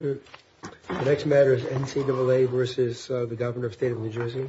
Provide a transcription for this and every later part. The next matter is NCAA versus the Governor of State of New Jersey.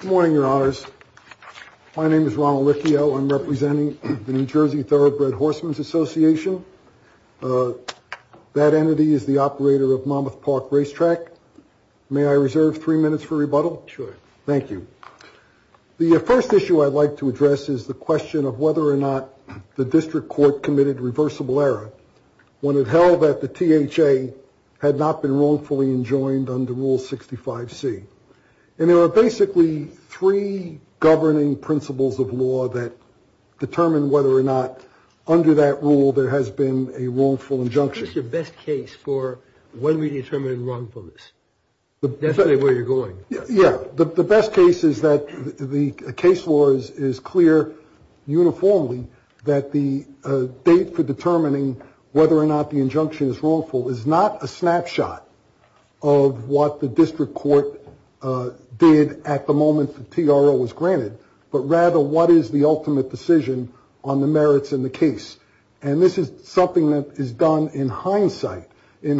Good morning, Your Honors. My name is Ronald Riccio. I'm representing the New Jersey Thoroughbred Horsemen's Association. That entity is the operator of Monmouth Park Racetrack. May I reserve three minutes for rebuttal? Sure. Thank you. The first issue I'd like to address is the question of whether or not the district court committed reversible error when it held that the THA had not been wrongfully enjoined under Rule 65C. And there are basically three governing principles of law that determine whether or not, under that rule, there has been a wrongful injunction. What is your best case for when we determine wrongfulness? Definitely where you're going. Yeah. The best case is that the case law is clear uniformly that the date for determining whether or not the injunction is wrongful is not a snapshot of what the district court did at the moment the TRO was granted, but rather what is the ultimate decision on the merits in the case. In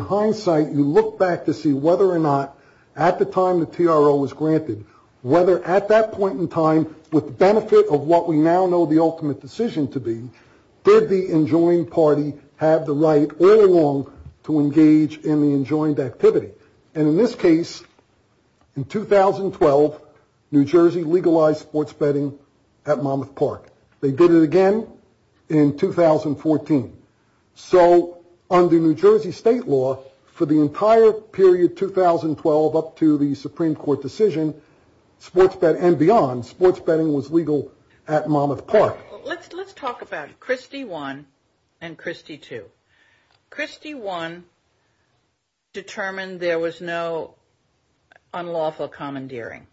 hindsight, you look back to see whether or not, at the time the TRO was granted, whether at that point in time, with the benefit of what we now know the ultimate decision to be, did the enjoined party have the right all along to engage in the enjoined activity. And in this case, in 2012, New Jersey legalized sports betting at Monmouth Park. They did it again in 2014. So under New Jersey state law, for the entire period 2012 up to the Supreme Court decision and beyond, sports betting was legal at Monmouth Park. Let's talk about Christie one and Christie two. Christie one determined there was no unlawful commandeering.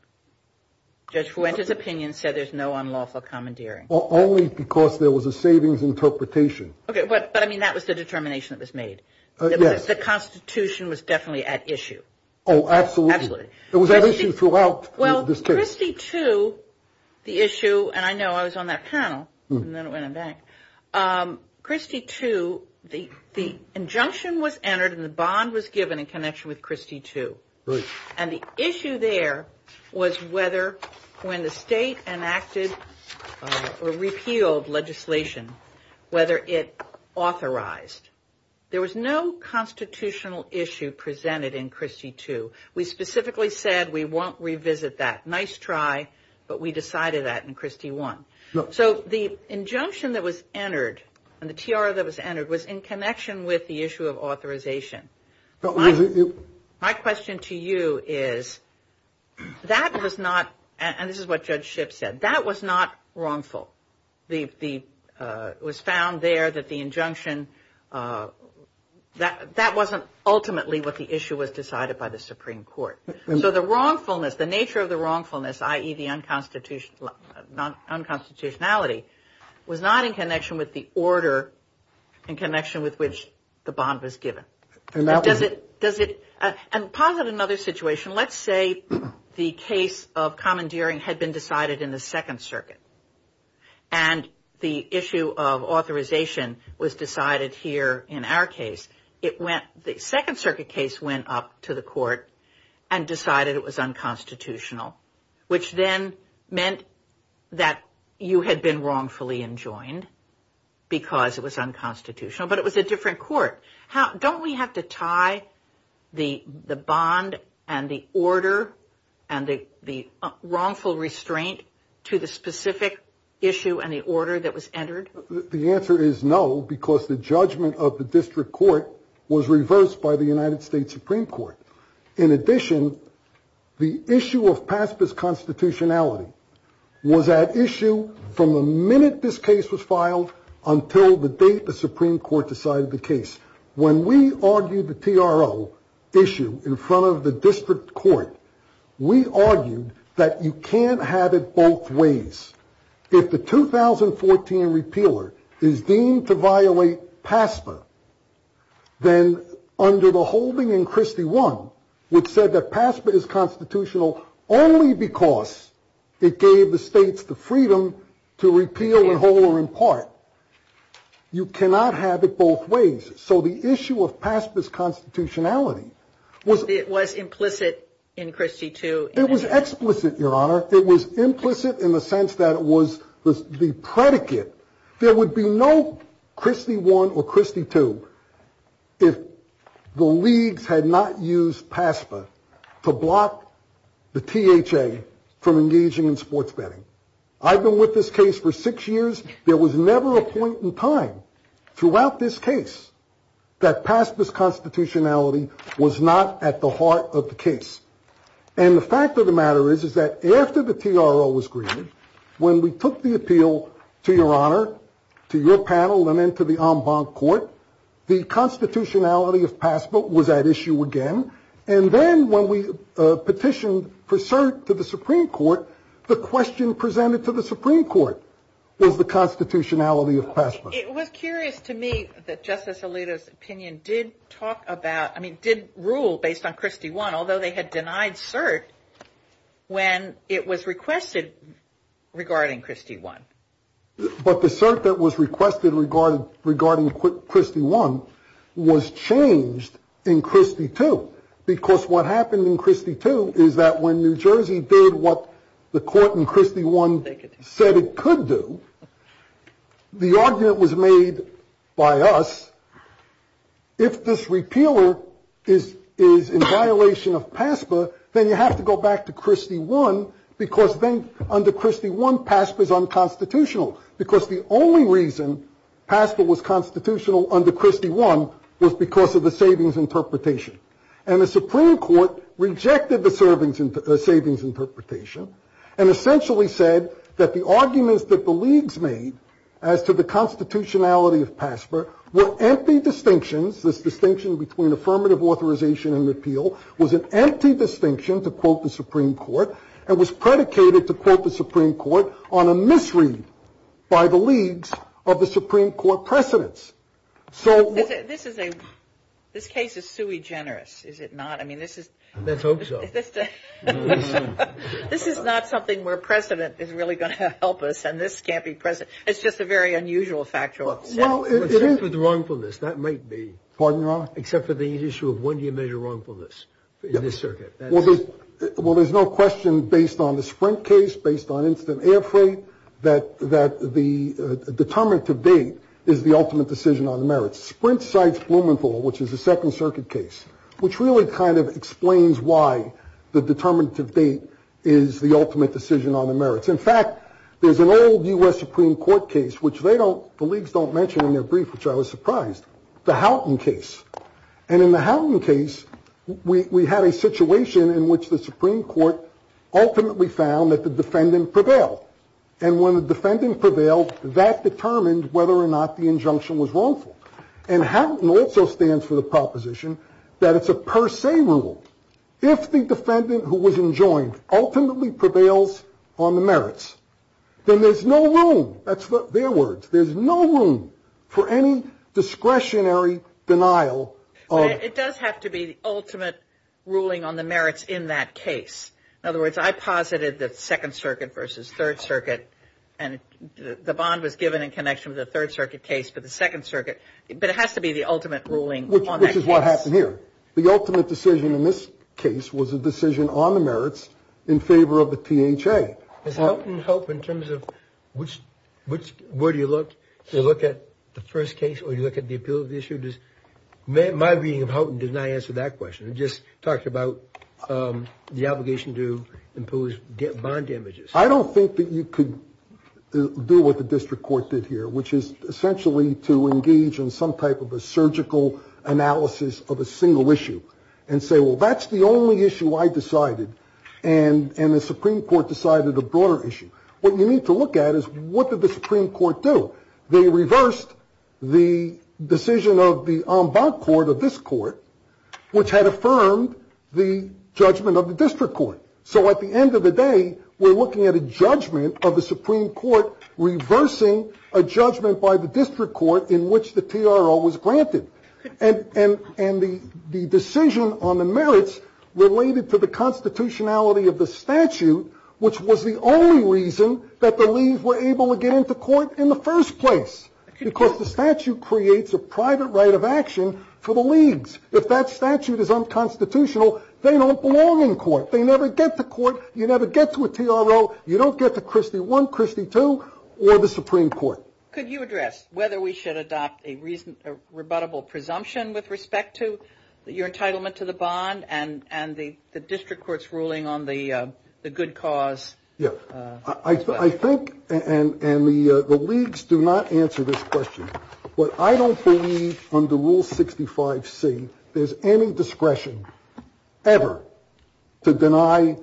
Judge Fuentes' opinion said there's no unlawful commandeering. Only because there was a savings interpretation. Okay, but I mean that was the determination that was made. Yes. The Constitution was definitely at issue. Oh, absolutely. Absolutely. It was at issue throughout this case. Well, Christie two, the issue, and I know I was on that panel, and then it went on back. Christie two, the injunction was entered and the bond was given in connection with Christie two. Right. And the issue there was whether when the state enacted or repealed legislation, whether it authorized. There was no constitutional issue presented in Christie two. We specifically said we won't revisit that. Nice try, but we decided that in Christie one. So the injunction that was entered and the TR that was entered was in connection with the issue of authorization. My question to you is that was not, and this is what Judge Shipp said, that was not wrongful. It was found there that the injunction, that wasn't ultimately what the issue was decided by the Supreme Court. So the wrongfulness, the nature of the wrongfulness, i.e., the unconstitutionality, was not in connection with the order in connection with which the bond was given. And that was. Does it, and posit another situation. Let's say the case of commandeering had been decided in the Second Circuit, and the issue of authorization was decided here in our case. It went, the Second Circuit case went up to the court and decided it was unconstitutional, which then meant that you had been wrongfully enjoined because it was unconstitutional. But it was a different court. Don't we have to tie the bond and the order and the wrongful restraint to the specific issue and the order that was entered? The answer is no, because the judgment of the district court was reversed by the United States Supreme Court. In addition, the issue of PASPA's constitutionality was at issue from the minute this case was filed until the date the Supreme Court decided the case. When we argued the TRO issue in front of the district court, we argued that you can't have it both ways. If the 2014 repealer is deemed to violate PASPA, then under the holding in Christie I, which said that PASPA is constitutional only because it gave the states the freedom to repeal and hold her in part. You cannot have it both ways. So the issue of PASPA's constitutionality was. It was implicit in Christie II. It was explicit, Your Honor. It was implicit in the sense that it was the predicate. There would be no Christie I or Christie II if the leagues had not used PASPA to block the THA from engaging in sports betting. I've been with this case for six years. There was never a point in time throughout this case that PASPA's constitutionality was not at the heart of the case. And the fact of the matter is, is that after the TRO was greeted, when we took the appeal to Your Honor, to your panel, and then to the en banc court, the constitutionality of PASPA was at issue again. And then when we petitioned for cert to the Supreme Court, the question presented to the Supreme Court was the constitutionality of PASPA. It was curious to me that Justice Alito's opinion did talk about, I mean, did rule based on Christie I, although they had denied cert when it was requested regarding Christie I. But the cert that was requested regarding Christie I was changed in Christie II. Because what happened in Christie II is that when New Jersey did what the court in Christie I said it could do, the argument was made by us. If this repealer is in violation of PASPA, then you have to go back to Christie I, because then under Christie I, PASPA is unconstitutional. Because the only reason PASPA was constitutional under Christie I was because of the savings interpretation. And the Supreme Court rejected the savings interpretation and essentially said that the arguments that the leagues made as to the constitutionality of PASPA were empty distinctions. This distinction between affirmative authorization and appeal was an empty distinction to quote the Supreme Court and was predicated to quote the Supreme Court on a misread by the leagues of the Supreme Court precedents. So this is a, this case is sui generis, is it not? I mean, this is. Let's hope so. This is not something where precedent is really going to help us and this can't be precedent. It's just a very unusual factual. Well, it is with wrongfulness. That might be. Pardon, Your Honor? Except for the issue of when do you measure wrongfulness in this circuit? Well, there's no question based on the Sprint case, based on instant air freight, that the determinative date is the ultimate decision on the merits. Sprint cites Blumenthal, which is a Second Circuit case, which really kind of explains why the determinative date is the ultimate decision on the merits. In fact, there's an old U.S. Supreme Court case, which they don't. The leagues don't mention in their brief, which I was surprised. The Houghton case. And in the Houghton case, we had a situation in which the Supreme Court ultimately found that the defendant prevailed. And when the defendant prevailed, that determined whether or not the injunction was wrongful. And Houghton also stands for the proposition that it's a per se rule. If the defendant who was enjoined ultimately prevails on the merits, then there's no room. That's their words. There's no room for any discretionary denial. It does have to be the ultimate ruling on the merits in that case. In other words, I posited that Second Circuit versus Third Circuit. And the bond was given in connection with the Third Circuit case for the Second Circuit. But it has to be the ultimate ruling. Which is what happened here. The ultimate decision in this case was a decision on the merits in favor of the THA. Does Houghton help in terms of which, where do you look? Do you look at the first case or do you look at the appeal of the issue? My reading of Houghton did not answer that question. It just talked about the obligation to impose bond damages. I don't think that you could do what the district court did here, which is essentially to engage in some type of a surgical analysis of a single issue. And say, well, that's the only issue I decided. And the Supreme Court decided a broader issue. What you need to look at is what did the Supreme Court do? They reversed the decision of the en banc court of this court, which had affirmed the judgment of the district court. So at the end of the day, we're looking at a judgment of the Supreme Court reversing a judgment by the district court in which the TRO was granted. And the decision on the merits related to the constitutionality of the statute, which was the only reason that the leagues were able to get into court in the first place. Because the statute creates a private right of action for the leagues. If that statute is unconstitutional, they don't belong in court. They never get to court. You never get to a TRO. You don't get to Christie I, Christie II, or the Supreme Court. Could you address whether we should adopt a rebuttable presumption with respect to your entitlement to the bond and the district court's ruling on the good cause? Yeah. I think and the leagues do not answer this question. But I don't believe under Rule 65 C, there's any discretion ever to deny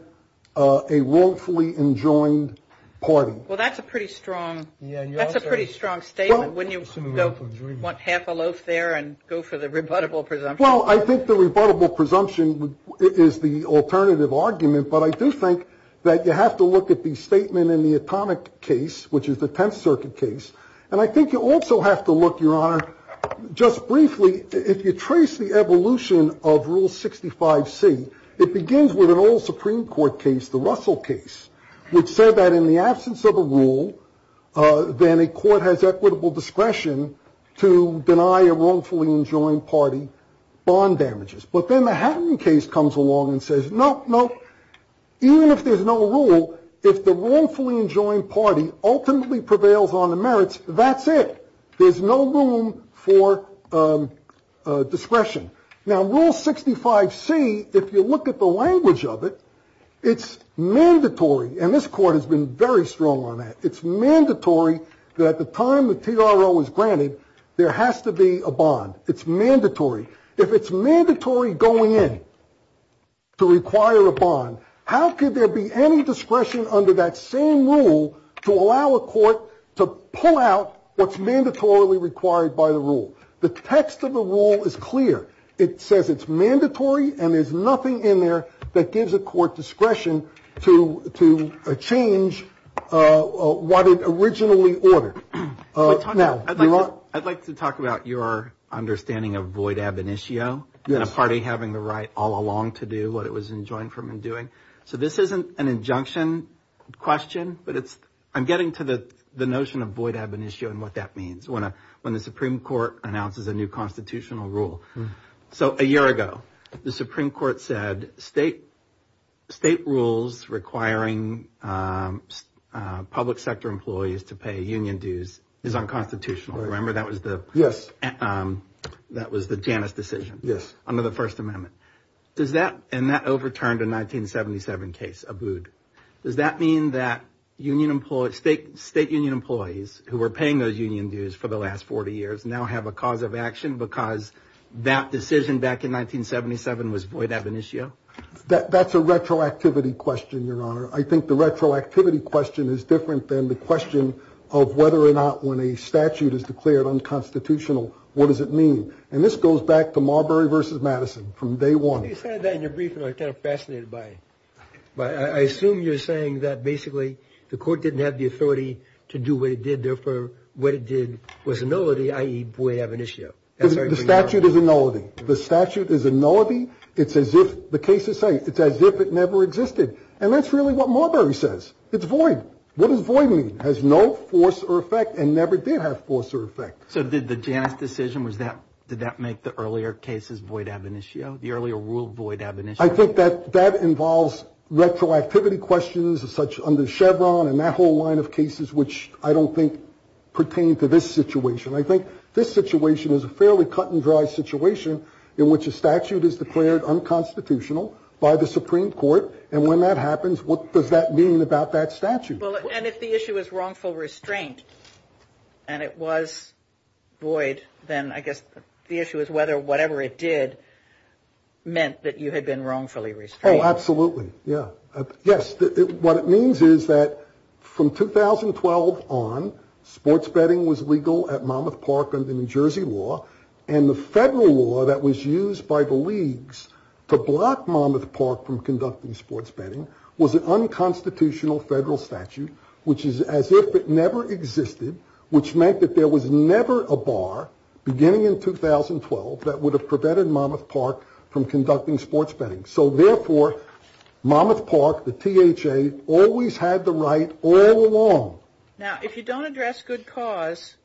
a wrongfully enjoined party. Well, that's a pretty strong. That's a pretty strong statement. When you want half a loaf there and go for the rebuttable presumption. Well, I think the rebuttable presumption is the alternative argument. But I do think that you have to look at the statement in the atomic case, which is the Tenth Circuit case. And I think you also have to look, Your Honor, just briefly, if you trace the evolution of Rule 65 C, it begins with an old Supreme Court case, the Russell case, which said that in the absence of a rule, then a court has equitable discretion to deny a wrongfully enjoined party bond damages. But then the happening case comes along and says, no, no, even if there's no rule, if the wrongfully enjoined party ultimately prevails on the merits, that's it. There's no room for discretion. Now, Rule 65 C, if you look at the language of it, it's mandatory. And this court has been very strong on that. It's mandatory that the time the TRO is granted, there has to be a bond. It's mandatory. If it's mandatory going in to require a bond, how could there be any discretion under that same rule to allow a court to pull out what's mandatorily required by the rule? The text of the rule is clear. It says it's mandatory and there's nothing in there that gives a court discretion to change what it originally ordered. I'd like to talk about your understanding of void ab initio. You had a party having the right all along to do what it was enjoined from and doing. So this isn't an injunction question, but it's I'm getting to the notion of void ab initio and what that means. When a when the Supreme Court announces a new constitutional rule. So a year ago, the Supreme Court said state state rules requiring public sector employees to pay union dues is unconstitutional. Remember, that was the. Yes, that was the Janice decision. Yes. Under the First Amendment. Does that. And that overturned a 1977 case. Does that mean that union employees, state state union employees who were paying those union dues for the last 40 years now have a cause of action? Because that decision back in 1977 was void ab initio. That's a retroactivity question, Your Honor. I think the retroactivity question is different than the question of whether or not when a statute is declared unconstitutional. What does it mean? And this goes back to Marbury versus Madison from day one. You said that in your brief and I got fascinated by it. But I assume you're saying that basically the court didn't have the authority to do what it did. Therefore, what it did was nullity, i.e. void ab initio. The statute is a nullity. The statute is a nullity. It's as if the case is safe. It's as if it never existed. And that's really what Marbury says. It's void. What does void mean? Has no force or effect and never did have force or effect. So did the Janice decision was that did that make the earlier cases void ab initio? The earlier rule void ab initio. I think that that involves retroactivity questions such under Chevron and that whole line of cases, which I don't think pertain to this situation. I think this situation is a fairly cut and dry situation in which a statute is declared unconstitutional by the Supreme Court. And when that happens, what does that mean about that statute? Well, and if the issue is wrongful restraint and it was void, then I guess the issue is whether whatever it did meant that you had been wrongfully restrained. Oh, absolutely. Yeah. Yes. What it means is that from 2012 on, sports betting was legal at Monmouth Park under New Jersey law. And the federal law that was used by the leagues to block Monmouth Park from conducting sports betting was an unconstitutional federal statute, which is as if it never existed, which meant that there was never a bar beginning in 2012 that would have prevented Monmouth Park from conducting sports betting. So therefore, Monmouth Park, the THA, always had the right all along. Now, if you don't address good cause,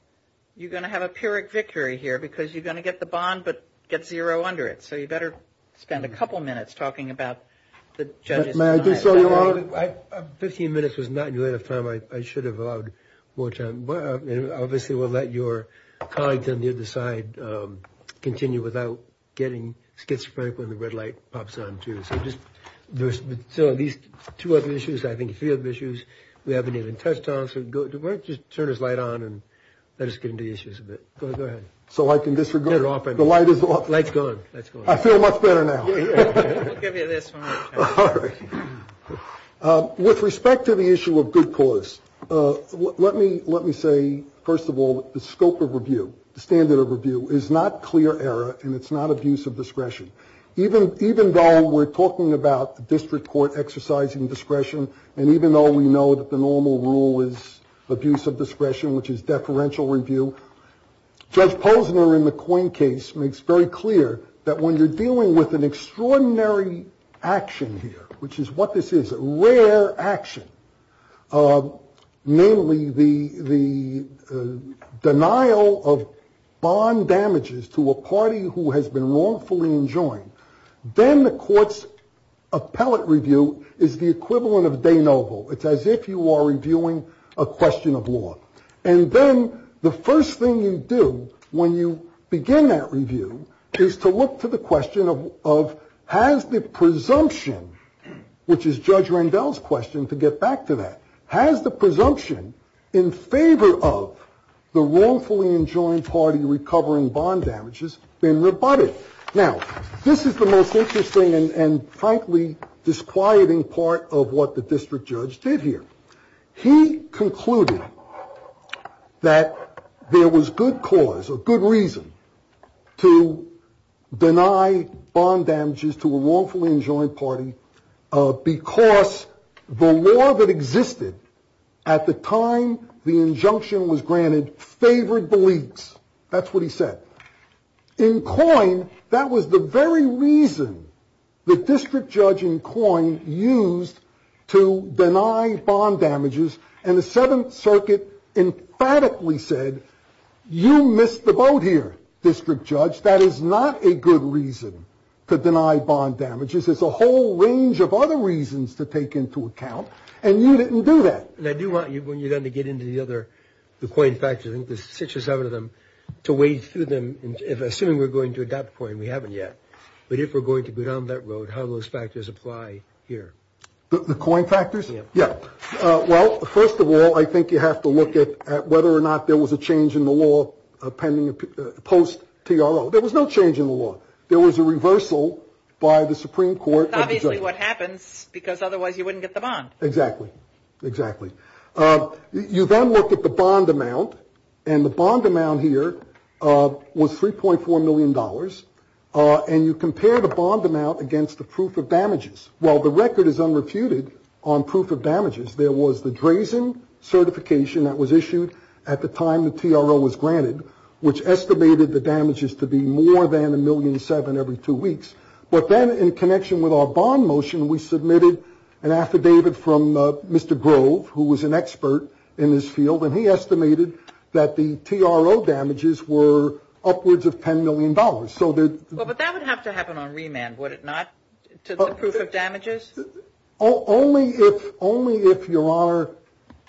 you're going to have a pyrrhic victory here because you're going to get the bond, but get zero under it. So you better spend a couple of minutes talking about the judges. So I 15 minutes was not enough time. I should have more time. Well, obviously, we'll let your colleagues on the other side continue without getting schizophrenic when the red light pops on. So these two other issues, I think three of the issues we haven't even touched on. So go to work. Just turn his light on and let us get into the issues of it. Go ahead. So I can disregard it off. The light is off. Let's go. Let's go. I feel much better now. With respect to the issue of good cause. Let me let me say, first of all, the scope of review. The standard of review is not clear error and it's not abuse of discretion. Even even though we're talking about the district court exercising discretion. And even though we know that the normal rule is abuse of discretion, which is deferential review. Judge Posner in the coin case makes very clear that when you're dealing with an extraordinary action here, which is what this is, a rare action, namely the the denial of bond damages to a party who has been wrongfully enjoined. Then the court's appellate review is the equivalent of day noble. It's as if you are reviewing a question of law. And then the first thing you do when you begin that review is to look to the question of of has the presumption, which is Judge Randall's question, to get back to that, has the presumption in favor of the wrongfully enjoined party, recovering bond damages in the body. Now, this is the most interesting and frankly disquieting part of what the district judge did here. He concluded that there was good cause or good reason to deny bond damages to a wrongfully enjoined party, because the law that existed at the time the injunction was granted favored beliefs. That's what he said in coin. That was the very reason the district judge in coin used to deny bond damages. And the Seventh Circuit emphatically said, you missed the boat here, district judge. That is not a good reason to deny bond damages. It's a whole range of other reasons to take into account. And you didn't do that. And I do want you when you're going to get into the other coin factoring, the six or seven of them to wade through them. Assuming we're going to adopt coin. We haven't yet. But if we're going to go down that road, how those factors apply here. The coin factors. Yeah. Well, first of all, I think you have to look at whether or not there was a change in the law pending post T.R.O. There was no change in the law. There was a reversal by the Supreme Court. Obviously what happens because otherwise you wouldn't get the bond. Exactly. Exactly. You then look at the bond amount and the bond amount here was three point four million dollars. And you compare the bond amount against the proof of damages. Well, the record is unrefuted on proof of damages. There was the Drazen certification that was issued at the time the T.R.O. was granted, which estimated the damages to be more than a million seven every two weeks. But then in connection with our bond motion, we submitted an affidavit from Mr. Grove, who was an expert in this field, and he estimated that the T.R.O. damages were upwards of ten million dollars. So that would have to happen on remand, would it not? To the proof of damages. Only if only if your honor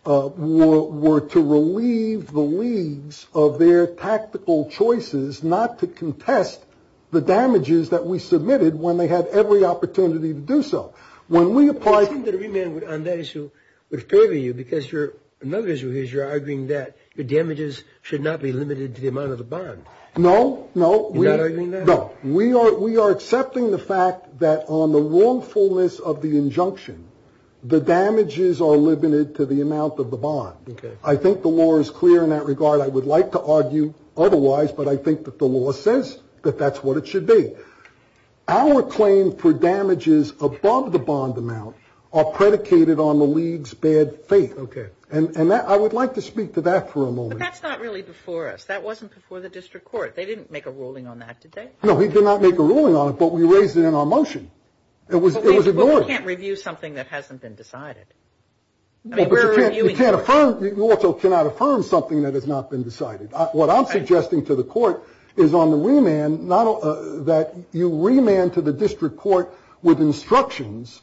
were to relieve the leagues of their tactical choices, not to contest the damages that we submitted when they had every opportunity to do so. When we applied to the remand on that issue, which favor you because you're another issue is you're arguing that the damages should not be limited to the amount of the bond. No, no, no. We are. We are accepting the fact that on the wrongfulness of the injunction, the damages are limited to the amount of the bond. I think the law is clear in that regard. I would like to argue otherwise. But I think that the law says that that's what it should be. Our claim for damages above the bond amount are predicated on the league's bad faith. OK. And I would like to speak to that for a moment. That's not really before us. That wasn't before the district court. They didn't make a ruling on that today. No, he did not make a ruling on it, but we raised it in our motion. It was ignored. Can't review something that hasn't been decided. You can't affirm. You also cannot affirm something that has not been decided. What I'm suggesting to the court is on the remand, not that you remand to the district court with instructions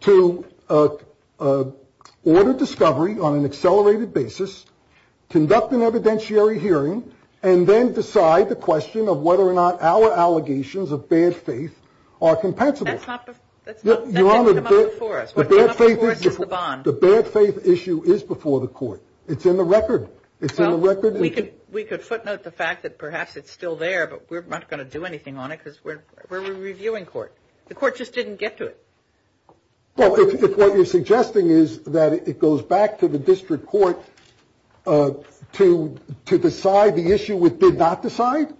to order discovery on an accelerated basis, conduct an evidentiary hearing and then decide the question of whether or not our allegations of bad faith are compensable. Your Honor, the bad faith issue is before the court. It's in the record. We could footnote the fact that perhaps it's still there, but we're not going to do anything on it because we're reviewing court. The court just didn't get to it. What you're suggesting is that it goes back to the district court to decide the issue with did not decide.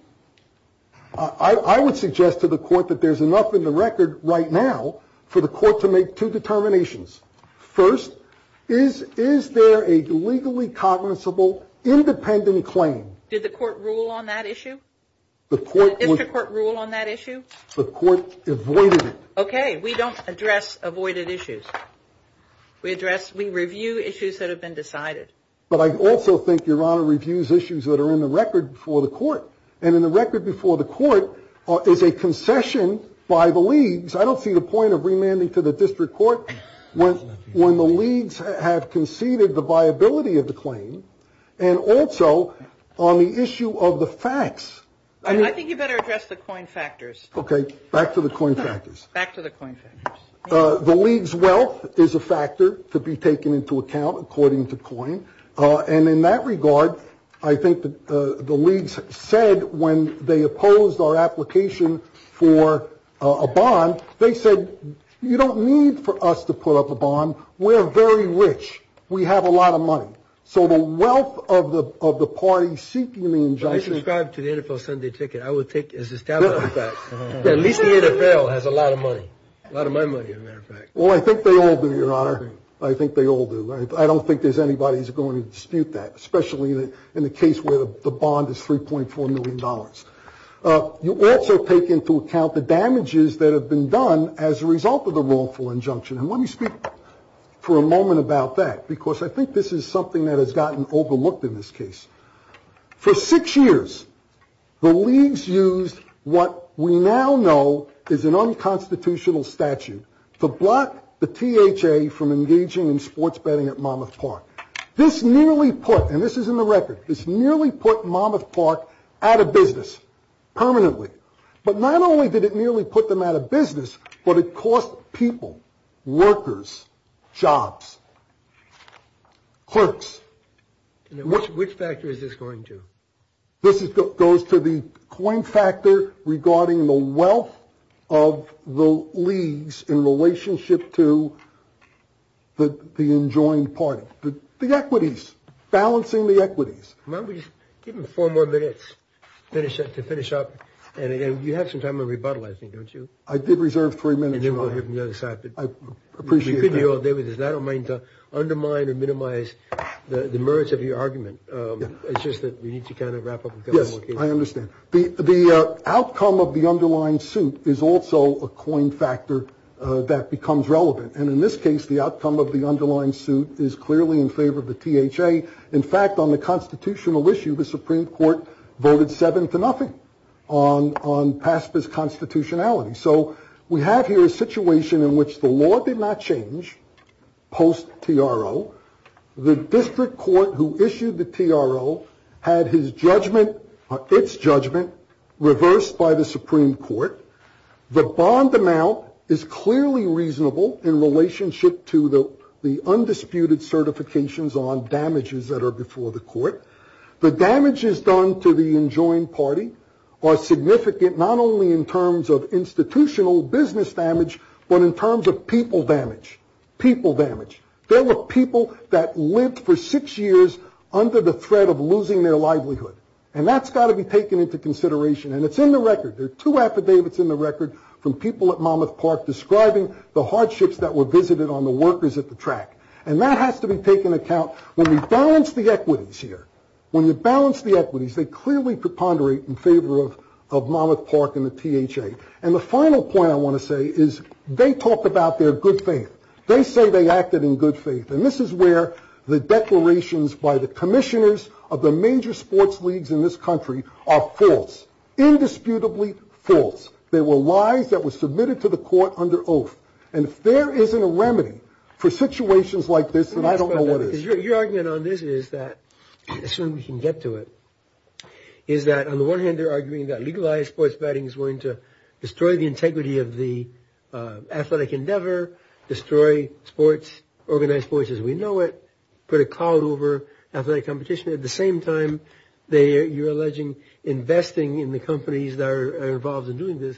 I would suggest to the court that there's enough in the record right now for the court to make two determinations. First, is is there a legally cognizable independent claim? Did the court rule on that issue? The court would court rule on that issue. The court avoided it. OK, we don't address avoided issues. We address we review issues that have been decided. But I also think your honor reviews issues that are in the record for the court. And in the record before the court is a concession by the leagues. I don't see the point of remanding to the district court when when the leagues have conceded the viability of the claim. And also on the issue of the facts. I think you better address the coin factors. OK, back to the coin factors. Back to the coin. The league's wealth is a factor to be taken into account, according to coin. And in that regard, I think that the leagues said when they opposed our application for a bond, they said, you don't need for us to put up a bond. We're very rich. We have a lot of money. So the wealth of the of the party seeking the injunction. I would take as a. At least the NFL has a lot of money, a lot of money. Well, I think they all do, your honor. I think they all do. I don't think there's anybody who's going to dispute that, especially in the case where the bond is three point four million dollars. You also take into account the damages that have been done as a result of the wrongful injunction. And let me speak for a moment about that, because I think this is something that has gotten overlooked in this case. For six years, the leagues used what we now know is an unconstitutional statute to block the T.H.A. from engaging in sports betting at Monmouth Park. This nearly put and this is in the record. It's nearly put Monmouth Park out of business permanently. But not only did it nearly put them out of business, but it cost people, workers, jobs, clerks. Which factor is this going to? This is what goes to the coin factor regarding the wealth of the leagues in relationship to. But the enjoined party, the equities, balancing the equities might be even four more minutes. Finish it to finish up. And again, you have some time to rebuttal, I think, don't you? I did reserve three minutes. I appreciate you all day. I don't mean to undermine or minimize the merits of your argument. It's just that we need to kind of wrap up. Yes, I understand. The outcome of the underlying suit is also a coin factor that becomes relevant. And in this case, the outcome of the underlying suit is clearly in favor of the T.H.A. In fact, on the constitutional issue, the Supreme Court voted seven to nothing on PASPA's constitutionality. So we have here a situation in which the law did not change post T.R.O. The district court who issued the T.R.O. had his judgment, its judgment reversed by the Supreme Court. The bond amount is clearly reasonable in relationship to the undisputed certifications on damages that are before the court. The damages done to the enjoined party are significant not only in terms of institutional business damage, but in terms of people damage. People damage. There were people that lived for six years under the threat of losing their livelihood. And that's got to be taken into consideration. And it's in the record. There are two affidavits in the record from people at Monmouth Park describing the hardships that were visited on the workers at the track. And that has to be taken account when we balance the equities here. When you balance the equities, they clearly preponderate in favor of Monmouth Park and the T.H.A. And the final point I want to say is they talk about their good faith. They say they acted in good faith. And this is where the declarations by the commissioners of the major sports leagues in this country are false. Indisputably false. There were lies that were submitted to the court under oath. And if there isn't a remedy for situations like this, then I don't know what is. Your argument on this is that as soon as we can get to it, is that on the one hand, they're arguing that legalized sports betting is going to destroy the integrity of the athletic endeavor, destroy sports, organize sports as we know it, put a cloud over athletic competition. At the same time, you're alleging investing in the companies that are involved in doing this.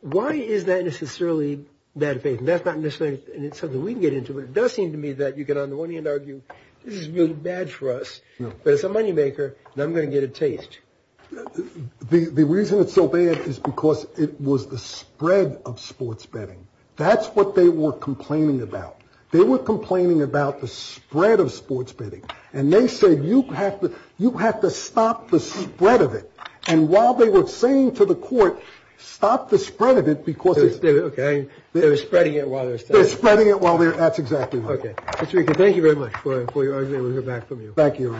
Why is that necessarily bad faith? That's not necessarily something we can get into. It does seem to me that you can on the one hand argue this is really bad for us, but it's a moneymaker. I'm going to get a taste. The reason it's so bad is because it was the spread of sports betting. That's what they were complaining about. They were complaining about the spread of sports betting. And they said you have to you have to stop the spread of it. And while they were saying to the court, stop the spread of it, because they're spreading it while they're spreading it. Well, that's exactly what we can. Thank you very much for your argument. We'll get back to you. Thank you.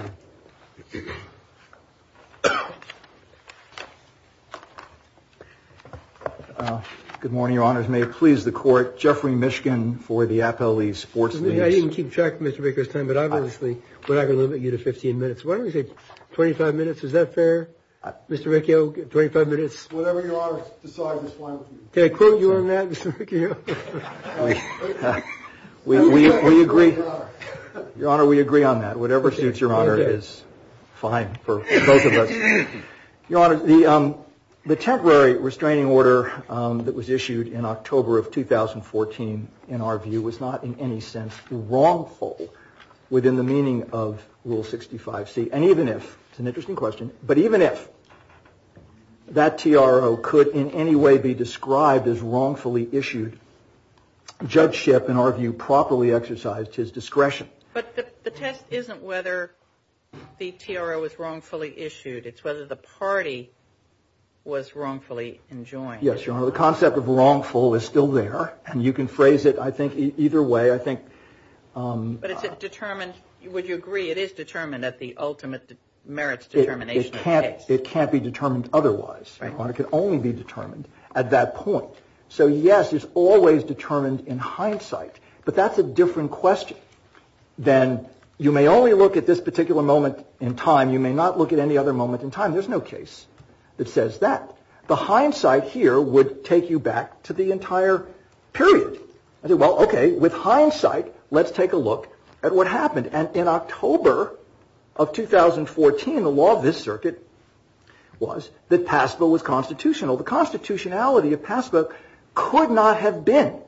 Good morning, Your Honors. May it please the court. Jeffrey Mishkin for the Apple sports team. I didn't keep track of Mr. Baker's time, but obviously we're not going to limit you to 15 minutes. Why don't we say 25 minutes? Is that fair? Mr. Riccio, 25 minutes. Whatever your honor decides is fine with me. Can I quote you on that, Mr. Riccio? We agree. Your Honor, we agree on that. Whatever suits your honor is fine for both of us. Your Honor, the temporary restraining order that was issued in October of 2014, in our view, was not in any sense wrongful within the meaning of Rule 65C. It's an interesting question. But even if that TRO could in any way be described as wrongfully issued, judgeship, in our view, properly exercised his discretion. But the test isn't whether the TRO was wrongfully issued. It's whether the party was wrongfully enjoined. Yes, Your Honor. The concept of wrongful is still there, and you can phrase it, I think, either way. But it's determined. Would you agree it is determined at the ultimate merits determination? It can't be determined otherwise, Your Honor. It can only be determined at that point. So, yes, it's always determined in hindsight. But that's a different question than you may only look at this particular moment in time. You may not look at any other moment in time. There's no case that says that. The hindsight here would take you back to the entire period. I said, well, okay, with hindsight, let's take a look at what happened. And in October of 2014, the law of this circuit was that PASPA was constitutional. The constitutionality of PASPA could not have been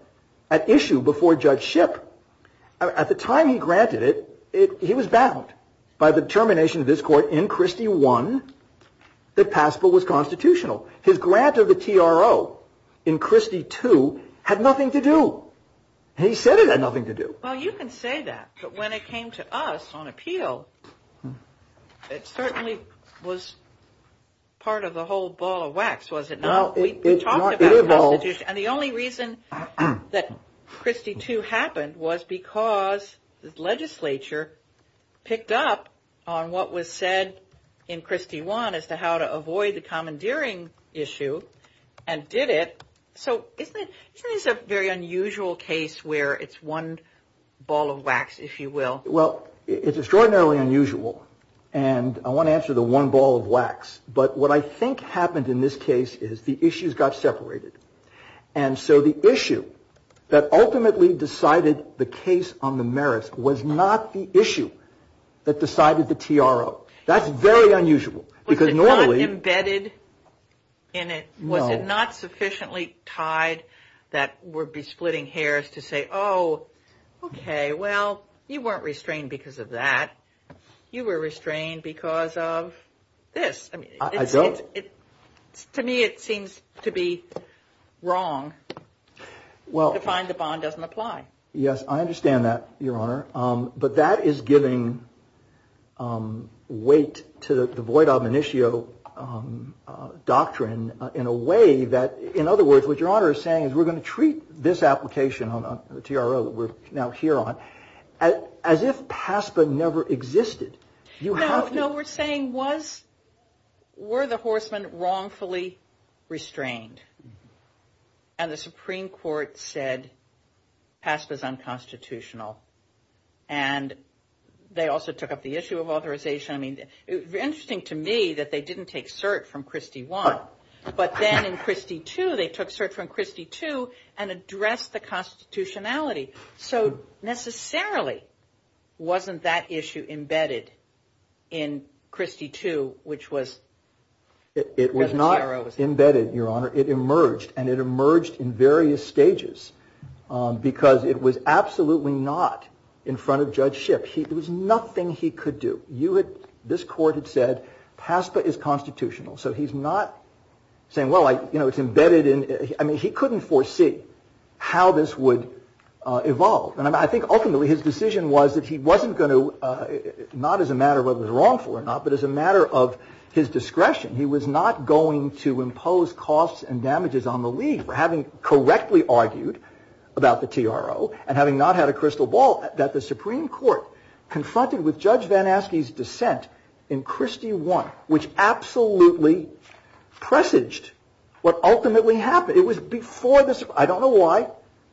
at issue before Judge Shipp. At the time he granted it, he was bound by the determination of this Court in Christie I that PASPA was constitutional. His grant of the TRO in Christie II had nothing to do. He said it had nothing to do. Well, you can say that. But when it came to us on appeal, it certainly was part of the whole ball of wax, was it not? No, it evolved. And the only reason that Christie II happened was because the legislature picked up on what was said in Christie I as to how to avoid the commandeering issue and did it. So isn't this a very unusual case where it's one ball of wax, if you will? Well, it's extraordinarily unusual. And I want to answer the one ball of wax. But what I think happened in this case is the issues got separated. And so the issue that ultimately decided the case on the merits was not the issue that decided the TRO. That's very unusual. Was it not embedded in it? No. Was it not sufficiently tied that we'd be splitting hairs to say, oh, okay, well, you weren't restrained because of that. You were restrained because of this. I don't. To me, it seems to be wrong to find the bond doesn't apply. Yes, I understand that, Your Honor. But that is giving weight to the void of an issue doctrine in a way that, in other words, what Your Honor is saying is we're going to treat this application on the TRO that we're now here on as if PASPA never existed. No, we're saying were the horsemen wrongfully restrained? And the Supreme Court said PASPA is unconstitutional. And they also took up the issue of authorization. I mean, interesting to me that they didn't take cert from Christie I. But then in Christie II, they took cert from Christie II and addressed the constitutionality. So necessarily wasn't that issue embedded in Christie II, which was? It was not embedded, Your Honor. It emerged. And it emerged in various stages because it was absolutely not in front of Judge Shipp. There was nothing he could do. This court had said PASPA is constitutional. So he's not saying, well, it's embedded in. I mean, he couldn't foresee how this would evolve. And I think ultimately his decision was that he wasn't going to, not as a matter of whether he was wrongful or not, but as a matter of his discretion, he was not going to impose costs and damages on the league for having correctly argued about the TRO and having not had a crystal ball that the Supreme Court confronted with Judge Van Aske's dissent in Christie I, which absolutely presaged what ultimately happened. It was before this. I don't know why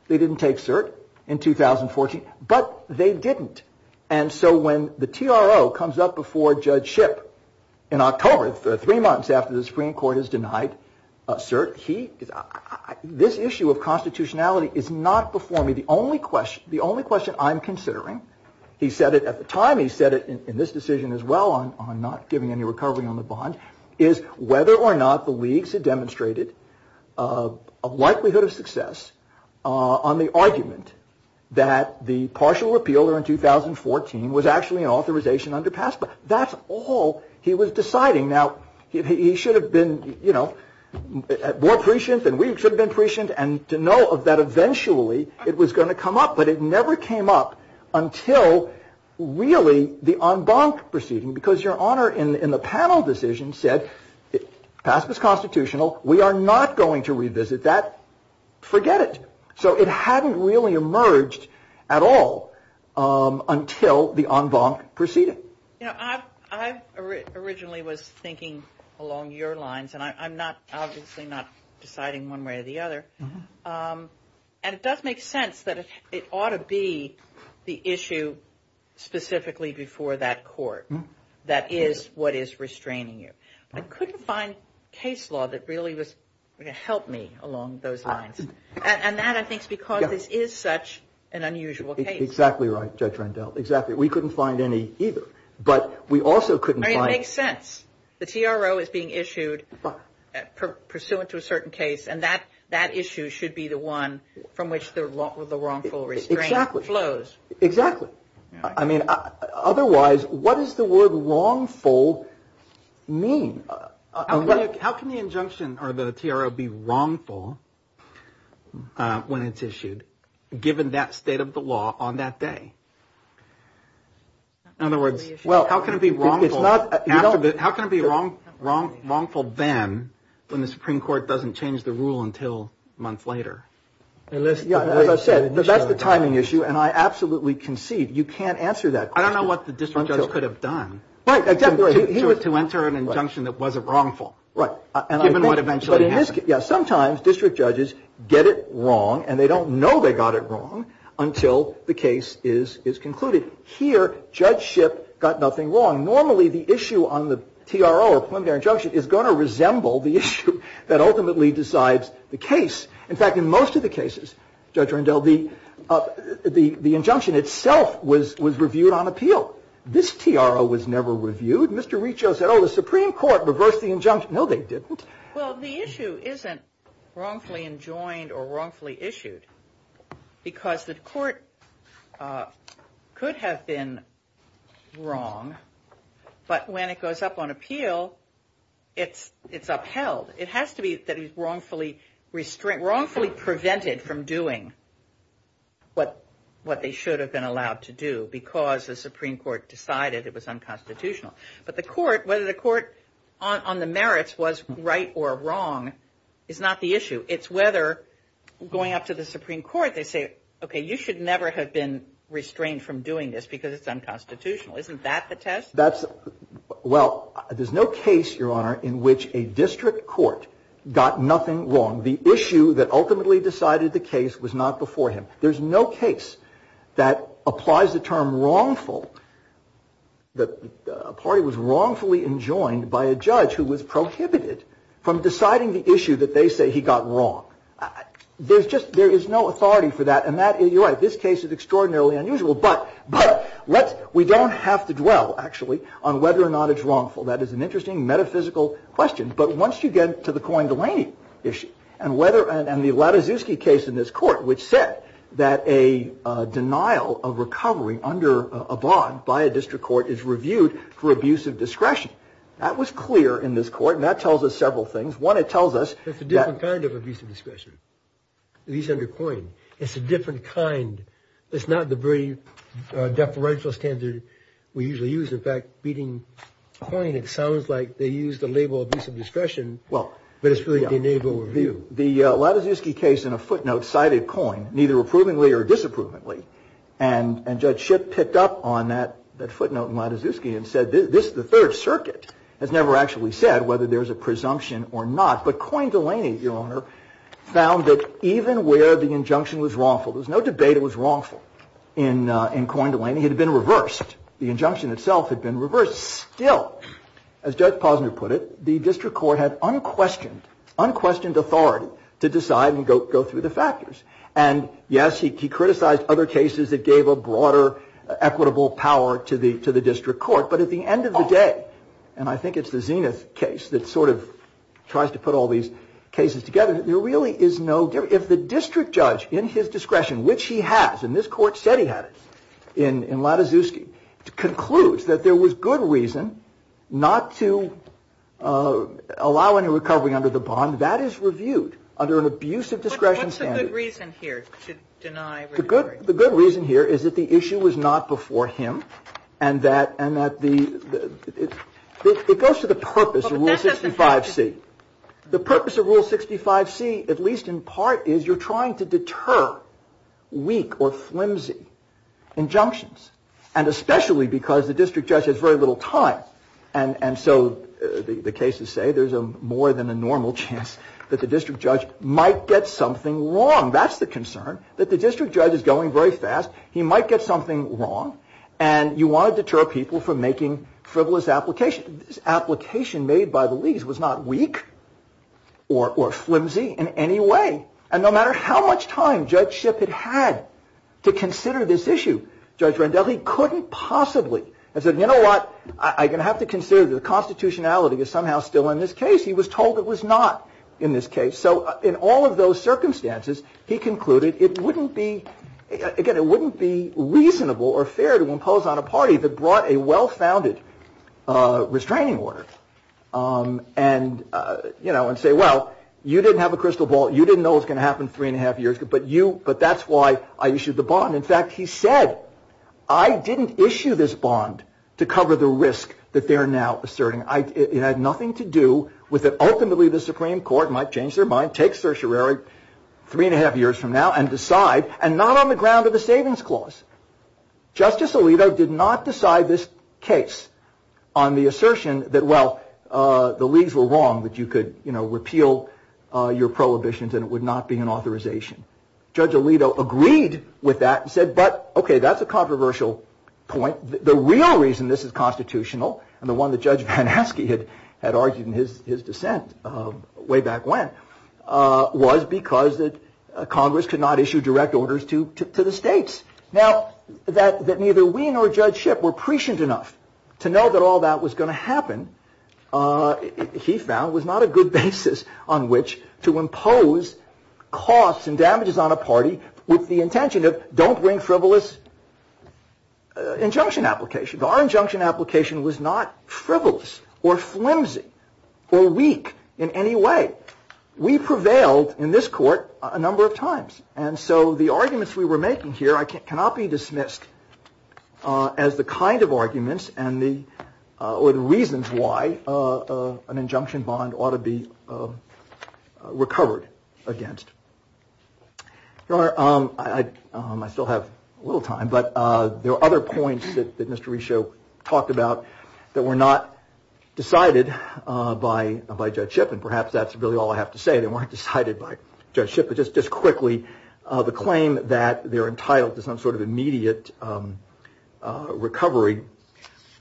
they didn't take cert in 2014, but they didn't. And so when the TRO comes up before Judge Shipp in October, three months after the Supreme Court has denied cert, he is this issue of constitutionality is not before me. The only question, the only question I'm considering. He said it at the time. He said it in this decision as well on not giving any recovery on the bond, is whether or not the leagues had demonstrated a likelihood of success on the argument that the partial repeal in 2014 was actually an authorization under PASPA. That's all he was deciding. Now, he should have been more prescient than we should have been prescient. And to know that eventually it was going to come up. But it never came up until really the en banc proceeding, because your honor in the panel decision said PASPA is constitutional. We are not going to revisit that. Forget it. So it hadn't really emerged at all until the en banc proceeding. I originally was thinking along your lines, and I'm not obviously not deciding one way or the other. And it does make sense that it ought to be the issue specifically before that court. That is what is restraining you. I couldn't find case law that really was going to help me along those lines. And that, I think, is because this is such an unusual case. Exactly right, Judge Rendell. Exactly. We couldn't find any either. But we also couldn't find. It makes sense. The TRO is being issued pursuant to a certain case. And that issue should be the one from which the wrongful restraint flows. Exactly. I mean, otherwise, what does the word wrongful mean? How can the injunction or the TRO be wrongful when it's issued, given that state of the law on that day? In other words. Well, how can it be wrong? It's not. How can it be wrong? Wrong. Wrongful then when the Supreme Court doesn't change the rule until a month later? Yeah. That's the timing issue. And I absolutely concede you can't answer that. I don't know what the district judge could have done. Right. He was to enter an injunction that wasn't wrongful. Right. And given what eventually. Yeah. Sometimes district judges get it wrong and they don't know they got it wrong until the case is concluded. Here, Judge Shipp got nothing wrong. Normally, the issue on the TRO or preliminary injunction is going to resemble the issue that ultimately decides the case. In fact, in most of the cases, Judge Rendell, the injunction itself was reviewed on appeal. This TRO was never reviewed. Mr. Riccio said, oh, the Supreme Court reversed the injunction. No, they didn't. Well, the issue isn't wrongfully enjoined or wrongfully issued because the court could have been wrong. But when it goes up on appeal, it's upheld. It has to be wrongfully prevented from doing what they should have been allowed to do because the Supreme Court decided it was unconstitutional. But the court, whether the court on the merits was right or wrong is not the issue. It's whether going up to the Supreme Court, they say, okay, you should never have been restrained from doing this because it's unconstitutional. Isn't that the test? That's. Well, there's no case, Your Honor, in which a district court got nothing wrong. The issue that ultimately decided the case was not before him. There's no case that applies the term wrongful, that a party was wrongfully enjoined by a judge who was prohibited from deciding the issue that they say he got wrong. There's just there is no authority for that. And that you're right. This case is extraordinarily unusual. But we don't have to dwell, actually, on whether or not it's wrongful. That is an interesting metaphysical question. But once you get to the coin Delaney issue and whether and the Lataszewski case in this court, which said that a denial of recovery under a bond by a district court is reviewed for abuse of discretion. That was clear in this court. And that tells us several things. One, it tells us. It's a different kind of abuse of discretion. These under coin. It's a different kind. It's not the very deferential standard we usually use. In fact, beating coin, it sounds like they use the label abuse of discretion. But it's really deniable review. The Lataszewski case in a footnote cited coin, neither approvingly or disapprovingly. And Judge Shipp picked up on that footnote in Lataszewski and said, this is the Third Circuit has never actually said whether there is a presumption or not. But coin Delaney, Your Honor, found that even where the injunction was wrongful, there was no debate it was wrongful in coin Delaney. It had been reversed. The injunction itself had been reversed. Still, as Judge Posner put it, the district court had unquestioned, unquestioned authority to decide and go through the factors. And, yes, he criticized other cases that gave a broader equitable power to the district court. But at the end of the day, and I think it's the Zenith case that sort of tries to put all these cases together, there really is no difference. But if the district judge in his discretion, which he has, and this court said he had it in Lataszewski, concludes that there was good reason not to allow any recovery under the bond, that is reviewed under an abuse of discretion standard. What's the good reason here to deny recovery? The good reason here is that the issue was not before him and that it goes to the purpose of Rule 65C. The purpose of Rule 65C, at least in part, is you're trying to deter weak or flimsy injunctions. And especially because the district judge has very little time. And so the cases say there's a more than a normal chance that the district judge might get something wrong. That's the concern, that the district judge is going very fast. He might get something wrong. And you want to deter people from making frivolous applications. This application made by the leagues was not weak or flimsy in any way. And no matter how much time Judge Shipp had had to consider this issue, Judge Rendell, he couldn't possibly. He said, you know what, I'm going to have to consider that the constitutionality is somehow still in this case. He was told it was not in this case. So in all of those circumstances, he concluded it wouldn't be again, it wouldn't be reasonable or fair to impose on a party that brought a well-founded restraining order. And, you know, and say, well, you didn't have a crystal ball. You didn't know it's going to happen three and a half years. But you but that's why I issued the bond. In fact, he said, I didn't issue this bond to cover the risk that they're now asserting. It had nothing to do with it. Ultimately, the Supreme Court might change their mind, take certiorari three and a half years from now and decide. And not on the ground of the savings clause. Justice Alito did not decide this case on the assertion that, well, the leagues were wrong, that you could repeal your prohibitions and it would not be an authorization. Judge Alito agreed with that and said, but OK, that's a controversial point. The real reason this is constitutional and the one that Judge Van Aske had had argued in his dissent way back when was because that Congress could not issue direct orders to the states. Now that that neither we nor Judge Shipp were prescient enough to know that all that was going to happen. He found was not a good basis on which to impose costs and damages on a party with the intention of don't bring frivolous injunction applications. Our injunction application was not frivolous or flimsy or weak in any way. We prevailed in this court a number of times. And so the arguments we were making here cannot be dismissed as the kind of arguments and the reasons why an injunction bond ought to be recovered against. Your Honor, I still have a little time, but there are other points that Mr. Reshow talked about that were not decided by Judge Shipp. And perhaps that's really all I have to say. They weren't decided by Judge Shipp. But just just quickly, the claim that they're entitled to some sort of immediate recovery.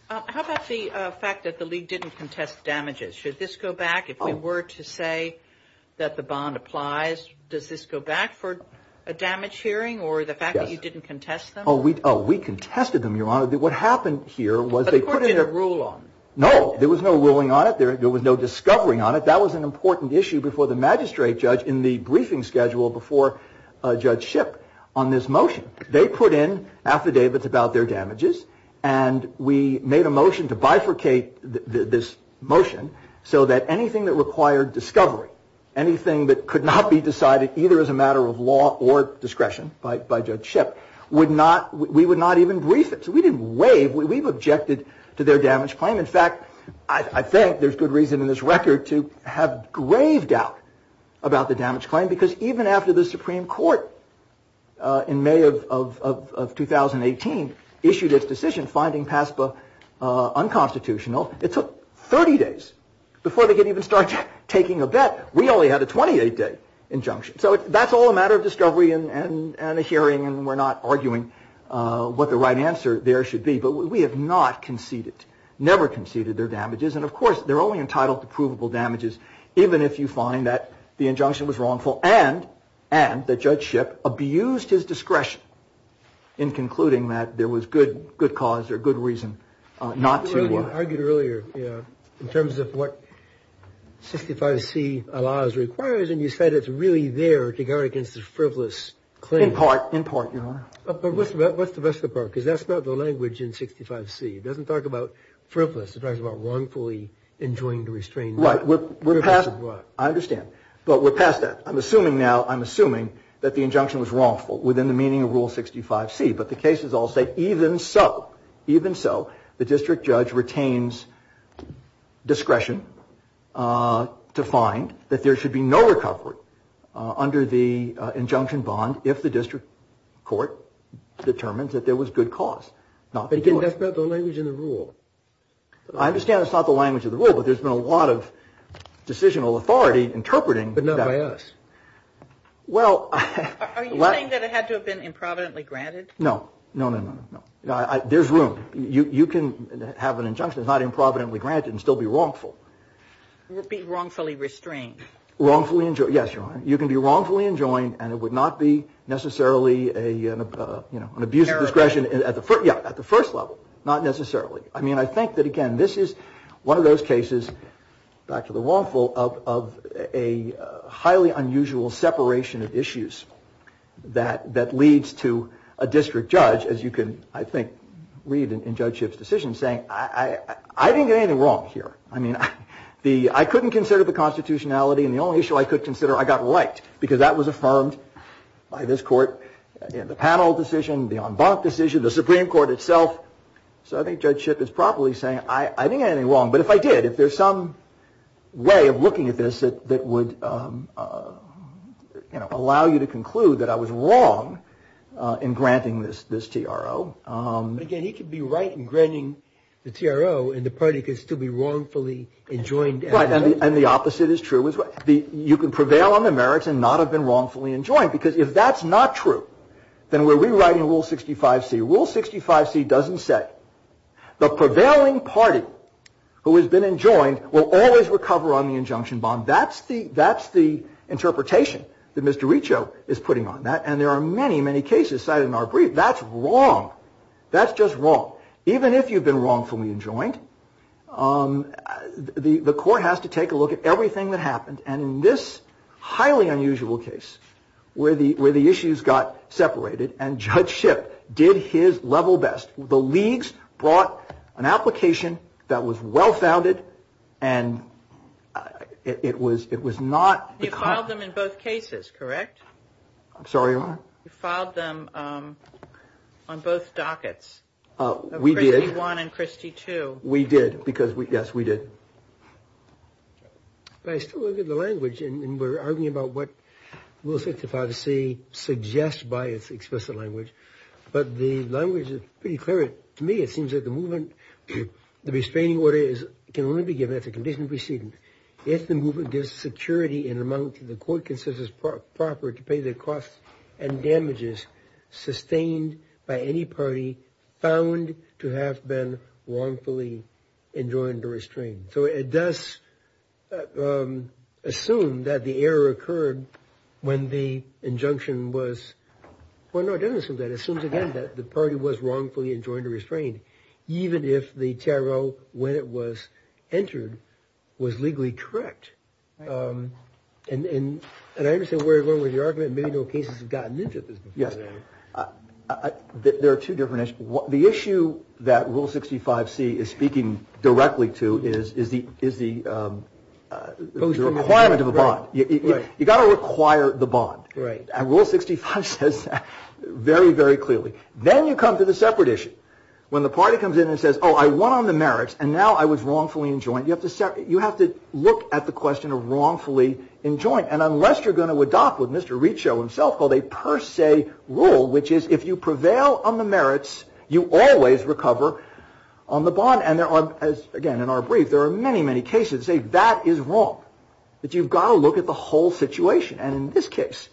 How about the fact that the league didn't contest damages? Should this go back if we were to say that the bond applies? Does this go back for a damage hearing or the fact that you didn't contest them? But the court didn't rule on it. No, there was no ruling on it. There was no discovering on it. That was an important issue before the magistrate judge in the briefing schedule before Judge Shipp on this motion. They put in affidavits about their damages, and we made a motion to bifurcate this motion so that anything that required discovery, anything that could not be decided either as a matter of law or discretion by Judge Shipp, we would not even brief it. So we didn't waive. We've objected to their damage claim. In fact, I think there's good reason in this record to have grave doubt about the damage claim, because even after the Supreme Court in May of 2018 issued its decision finding PASPA unconstitutional, it took 30 days before they could even start taking a bet. We only had a 28 day injunction. So that's all a matter of discovery and a hearing, and we're not arguing what the right answer there should be. But we have not conceded, never conceded their damages. And, of course, they're only entitled to provable damages even if you find that the injunction was wrongful and that Judge Shipp abused his discretion in concluding that there was good cause or good reason not to. But you argued earlier, you know, in terms of what 65C allows, requires, and you said it's really there to guard against a frivolous claim. In part, in part, Your Honor. But what's the rest of the part? Because that's not the language in 65C. It doesn't talk about frivolous. It talks about wrongfully enjoined restraint. Right. We're past that. I understand. But we're past that. I'm assuming now, I'm assuming that the injunction was wrongful within the meaning of Rule 65C. But the cases all say even so, even so, the district judge retains discretion to find that there should be no recovery under the injunction bond if the district court determines that there was good cause. But that's not the language in the rule. I understand it's not the language of the rule, but there's been a lot of decisional authority interpreting that. But not by us. Are you saying that it had to have been improvidently granted? No. No, no, no, no, no. There's room. You can have an injunction that's not improvidently granted and still be wrongful. Be wrongfully restrained. Wrongfully enjoined. Yes, Your Honor. You can be wrongfully enjoined and it would not be necessarily an abuse of discretion at the first level. Not necessarily. I mean, I think that, again, this is one of those cases, back to the wrongful, of a highly unusual separation of issues that leads to a district judge, as you can, I think, read in Judge Schiff's decision, saying, I didn't get anything wrong here. I mean, I couldn't consider the constitutionality and the only issue I could consider, I got right. Because that was affirmed by this court in the panel decision, the en banc decision, the Supreme Court itself. So I think Judge Schiff is probably saying, I didn't get anything wrong. But if I did, if there's some way of looking at this that would allow you to conclude that I was wrong in granting this TRO. Again, he could be right in granting the TRO and the party could still be wrongfully enjoined. And the opposite is true as well. You can prevail on the merits and not have been wrongfully enjoined. Because if that's not true, then we're rewriting Rule 65C. Rule 65C doesn't say the prevailing party who has been enjoined will always recover on the injunction bond. That's the interpretation that Mr. Riccio is putting on that. And there are many, many cases cited in our brief. That's wrong. That's just wrong. Even if you've been wrongfully enjoined, the court has to take a look at everything that happened. And in this highly unusual case where the issues got separated and Judge Schiff did his level best, the leagues brought an application that was well-founded and it was not. You filed them in both cases, correct? I'm sorry, Your Honor? You filed them on both dockets. We did. Of Christie 1 and Christie 2. We did. Because, yes, we did. But I still look at the language. And we're arguing about what Rule 65C suggests by its explicit language. But the language is pretty clear. To me, it seems that the movement, the restraining order can only be given as a conditional precedent if the movement gives security in an amount that the court considers proper to pay the costs and damages sustained by any party found to have been wrongfully enjoined or restrained. So it does assume that the error occurred when the injunction was – well, no, it doesn't assume that. It assumes, again, that the party was wrongfully enjoined or restrained, even if the TRO, when it was entered, was legally correct. And I understand where you're going with your argument. Maybe no cases have gotten into this before. Yes. There are two different – the issue that Rule 65C is speaking directly to is the requirement of a bond. Right. You've got to require the bond. Right. And Rule 65 says that very, very clearly. Then you come to the separate issue, when the party comes in and says, oh, I won on the merits and now I was wrongfully enjoined. You have to look at the question of wrongfully enjoined. And unless you're going to adopt what Mr. Reachow himself called a per se rule, which is if you prevail on the merits, you always recover on the bond. And there are – again, in our brief, there are many, many cases that say that is wrong, that you've got to look at the whole situation. And in this case,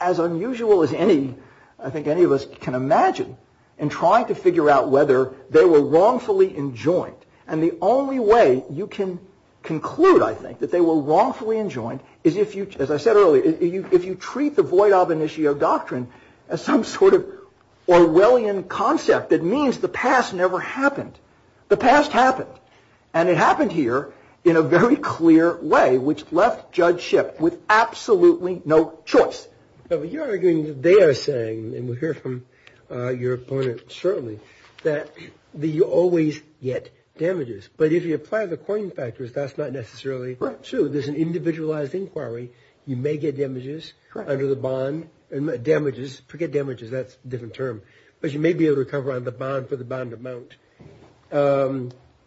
as unusual as any – I think any of us can imagine in trying to figure out whether they were wrongfully enjoined, and the only way you can conclude, I think, that they were wrongfully enjoined is if you – as I said earlier, if you treat the void ab initio doctrine as some sort of Orwellian concept that means the past never happened. The past happened. And it happened here in a very clear way, which left Judge Shipp with absolutely no choice. But you're arguing that they are saying, and we'll hear from your opponent shortly, that you always get damages. But if you apply the coin factors, that's not necessarily true. There's an individualized inquiry. You may get damages under the bond – damages, forget damages, that's a different term. But you may be able to recover on the bond for the bond amount.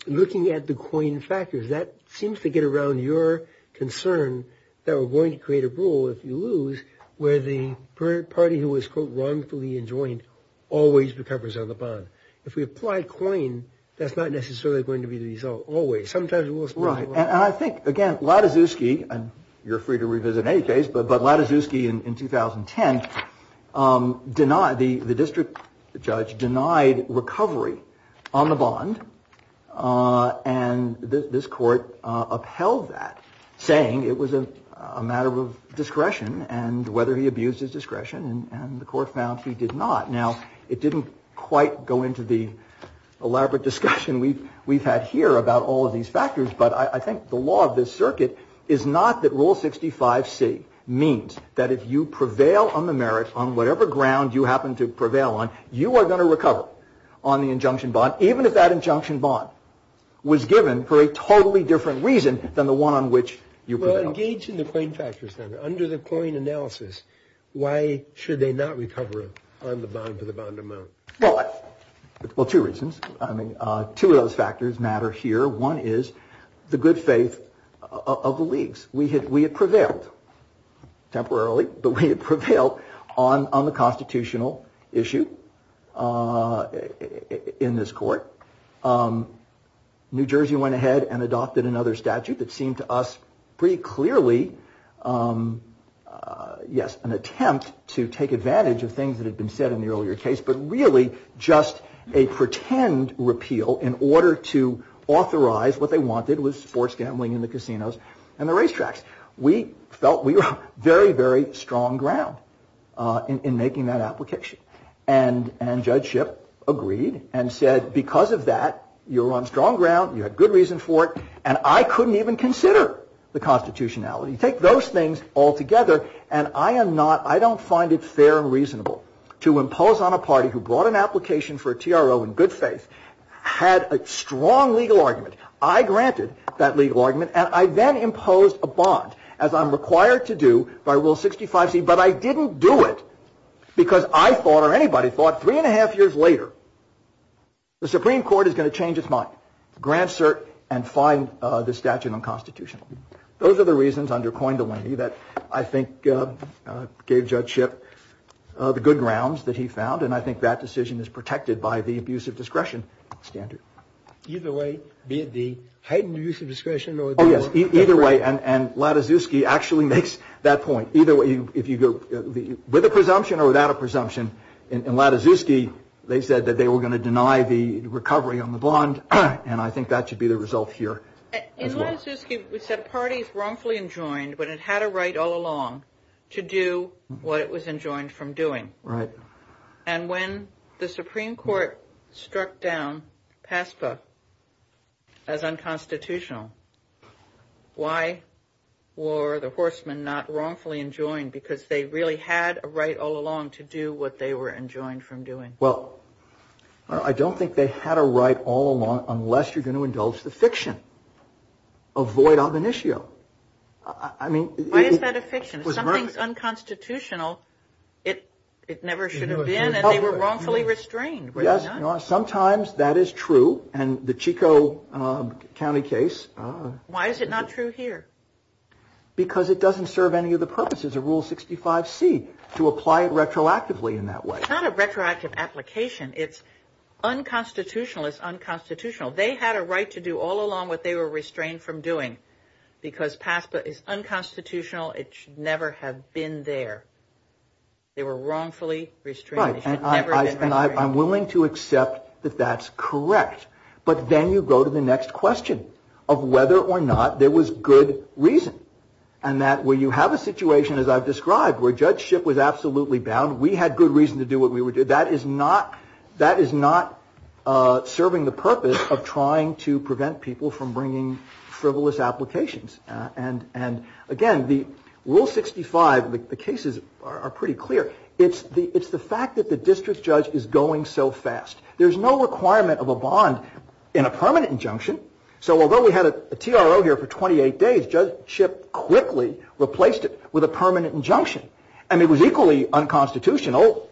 Looking at the coin factors, that seems to get around your concern that we're going to create a rule if you lose where the party who was, quote, wrongfully enjoined always recovers on the bond. If we apply coin, that's not necessarily going to be the result always. Sometimes we'll spend a lot. Right. And I think, again, Lataszewski – and you're free to revisit any case – but Lataszewski in 2010 denied – the district judge denied recovery on the bond. And this court upheld that, saying it was a matter of discretion and whether he abused his discretion. And the court found he did not. Now, it didn't quite go into the elaborate discussion we've had here about all of these factors. But I think the law of this circuit is not that Rule 65c means that if you prevail on the merit on whatever ground you happen to prevail on, you are going to recover on the injunction bond, even if that injunction bond was given for a totally different reason than the one on which you prevailed. Well, engage in the coin factors, then. Under the coin analysis, why should they not recover on the bond for the bond amount? Well, two reasons. I mean, two of those factors matter here. One is the good faith of the leagues. We had prevailed, temporarily, but we had prevailed on the constitutional issue in this court. New Jersey went ahead and adopted another statute that seemed to us pretty clearly, yes, an attempt to take advantage of things that had been said in the earlier case, but really just a pretend repeal in order to authorize what they wanted, which was sports gambling in the casinos and the racetracks. We felt we were on very, very strong ground in making that application. And Judge Shipp agreed and said, because of that, you're on strong ground, you had good reason for it, and I couldn't even consider the constitutionality. You take those things all together, and I am not, I don't find it fair and reasonable to impose on a party who brought an application for a TRO in good faith, had a strong legal argument. I granted that legal argument, and I then imposed a bond, as I'm required to do by Rule 65C, but I didn't do it because I thought, or anybody thought, three and a half years later, the Supreme Court is going to change its mind, grant cert, and find the statute unconstitutional. Those are the reasons, under Coindolini, that I think gave Judge Shipp the good grounds that he found, and I think that decision is protected by the abuse of discretion standard. Either way, be it the heightened abuse of discretion or the- Oh, yes, either way, and Lataszewski actually makes that point. Either way, if you go with a presumption or without a presumption, in Lataszewski, they said that they were going to deny the recovery on the bond, and I think that should be the result here as well. In Lataszewski, we said parties wrongfully enjoined when it had a right all along to do what it was enjoined from doing. Right. And when the Supreme Court struck down PASPA as unconstitutional, why were the horsemen not wrongfully enjoined because they really had a right all along to do what they were enjoined from doing? Well, I don't think they had a right all along unless you're going to indulge the fiction. Avoid ob initio. I mean- Why is that a fiction? If something's unconstitutional, it never should have been, and they were wrongfully restrained. Yes, sometimes that is true, and the Chico County case- Why is it not true here? Because it doesn't serve any of the purposes of Rule 65C to apply it retroactively in that way. It's not a retroactive application. It's unconstitutional. It's unconstitutional. They had a right to do all along what they were restrained from doing because PASPA is unconstitutional. It should never have been there. They were wrongfully restrained. Right, and I'm willing to accept that that's correct, but then you go to the next question of whether or not there was good reason, and that where you have a situation, as I've described, where Judge Schipp was absolutely bound, we had good reason to do what we would do. That is not serving the purpose of trying to prevent people from bringing frivolous applications, and, again, the Rule 65, the cases are pretty clear. It's the fact that the district judge is going so fast. There's no requirement of a bond in a permanent injunction, so although we had a TRO here for 28 days, Judge Schipp quickly replaced it with a permanent injunction, and it was equally unconstitutional,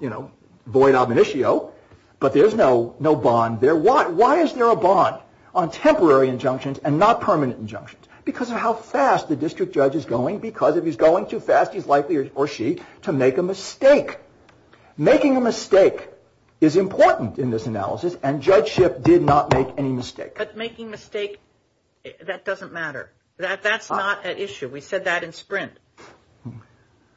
you know, void ab initio, but there's no bond there. Why is there a bond on temporary injunctions and not permanent injunctions? Because of how fast the district judge is going because if he's going too fast, he's likely, or she, to make a mistake. Making a mistake is important in this analysis, and Judge Schipp did not make any mistake. But making a mistake, that doesn't matter. That's not an issue. We said that in SPRINT.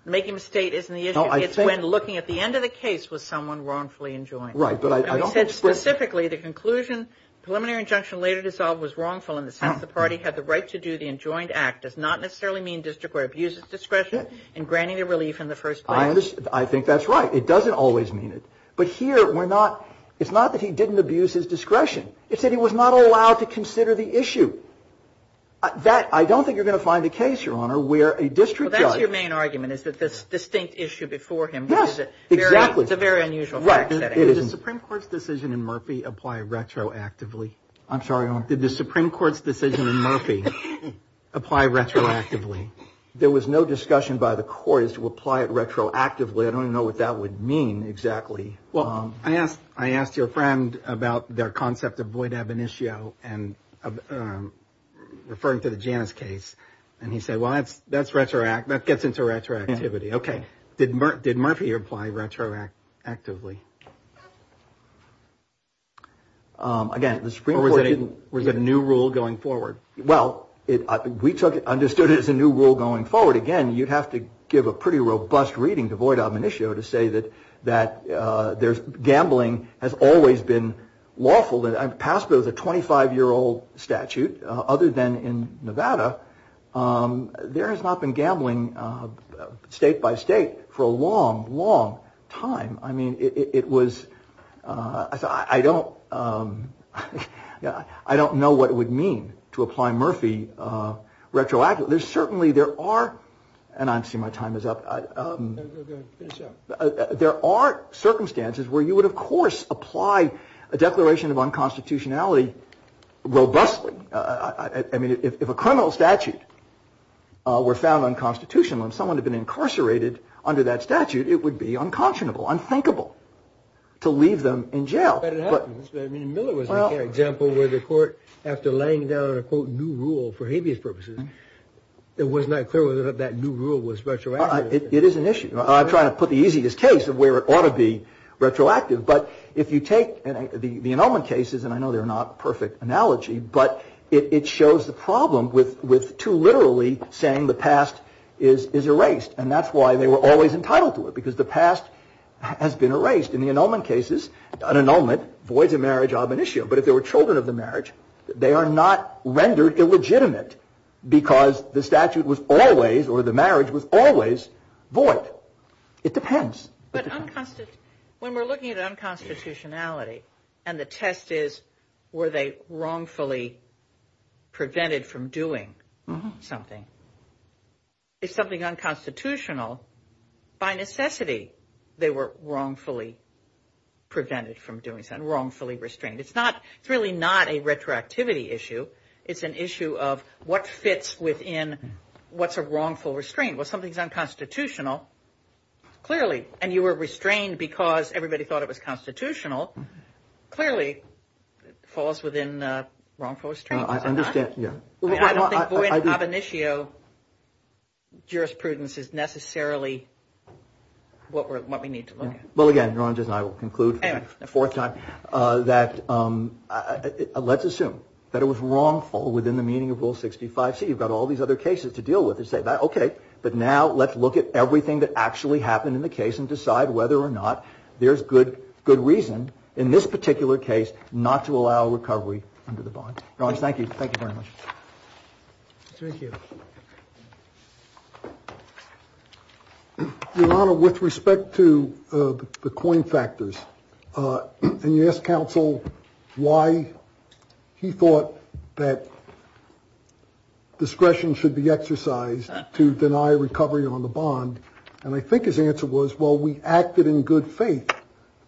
Making a mistake isn't the issue. It's when looking at the end of the case was someone wrongfully enjoined. Right, but I don't think SPRINT. And we said specifically the conclusion preliminary injunction later dissolved was wrongful in the sense the party had the right to do the enjoined act does not necessarily mean district court abuses discretion in granting the relief in the first place. I think that's right. It doesn't always mean it. But here, we're not, it's not that he didn't abuse his discretion. It's that he was not allowed to consider the issue. That, I don't think you're going to find a case, Your Honor, where a district judge. Well, that's your main argument is that this distinct issue before him. Yes, exactly. It's a very unusual fact setting. Did the Supreme Court's decision in Murphy apply retroactively? I'm sorry, Your Honor. Did the Supreme Court's decision in Murphy apply retroactively? There was no discussion by the court is to apply it retroactively. I don't know what that would mean. Exactly. Well, I asked. I asked your friend about their concept of void ab initio and referring to the Janice case. And he said, well, that's that's retroactive. That gets into retroactivity. OK. Did did Murphy apply retroactively? Again, the Supreme Court was a new rule going forward. Well, we took it, understood it as a new rule going forward. Again, you'd have to give a pretty robust reading to void ab initio to say that that there's gambling has always been lawful. And I'm passed with a 25 year old statute. Other than in Nevada, there has not been gambling state by state for a long, long time. I mean, it was I don't I don't know what it would mean to apply Murphy retroactively. There's certainly there are. And I see my time is up. There are circumstances where you would, of course, apply a declaration of unconstitutionality robustly. I mean, if a criminal statute were found unconstitutional and someone had been incarcerated under that statute, it would be unconscionable, unthinkable to leave them in jail. But Miller was an example where the court, after laying down a quote, new rule for habeas purposes. It was not clear whether that new rule was retroactive. It is an issue. I'm trying to put the easiest case of where it ought to be retroactive. But if you take the Inelman cases and I know they're not perfect analogy, but it shows the problem with with too literally saying the past is is erased. And that's why they were always entitled to it, because the past has been erased. In the Inelman cases, an annulment voids a marriage of an issue. But if there were children of the marriage, they are not rendered illegitimate because the statute was always or the marriage was always void. It depends. But when we're looking at unconstitutionality and the test is, were they wrongfully prevented from doing something? It's something unconstitutional. By necessity, they were wrongfully prevented from doing something wrongfully restrained. It's not it's really not a retroactivity issue. It's an issue of what fits within what's a wrongful restraint. Well, something's unconstitutional, clearly. And you were restrained because everybody thought it was constitutional. Clearly, it falls within wrongful restraint. I understand. Yeah, I don't have an issue. Jurisprudence is necessarily what we're what we need to look at. Well, again, Ron, just I will conclude the fourth time that let's assume that it was wrongful within the meaning of Rule 65. So you've got all these other cases to deal with and say, OK, but now let's look at everything that actually happened in the case and decide whether or not. There's good good reason in this particular case not to allow recovery under the bond. Thank you. Thank you very much. Thank you. With respect to the coin factors. Can you ask counsel why he thought that discretion should be exercised to deny recovery on the bond? And I think his answer was, well, we acted in good faith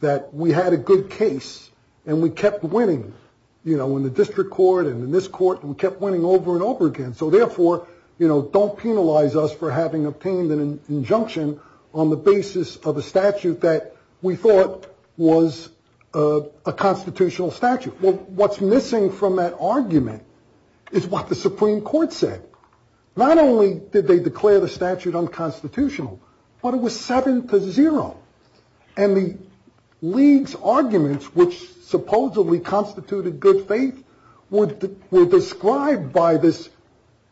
that we had a good case and we kept winning, you know, in the district court and in this court. We kept winning over and over again. So therefore, you know, don't penalize us for having obtained an injunction on the basis of a statute that we thought was a constitutional statute. Well, what's missing from that argument is what the Supreme Court said. Not only did they declare the statute unconstitutional, but it was seven to zero. And the league's arguments, which supposedly constituted good faith, were described by this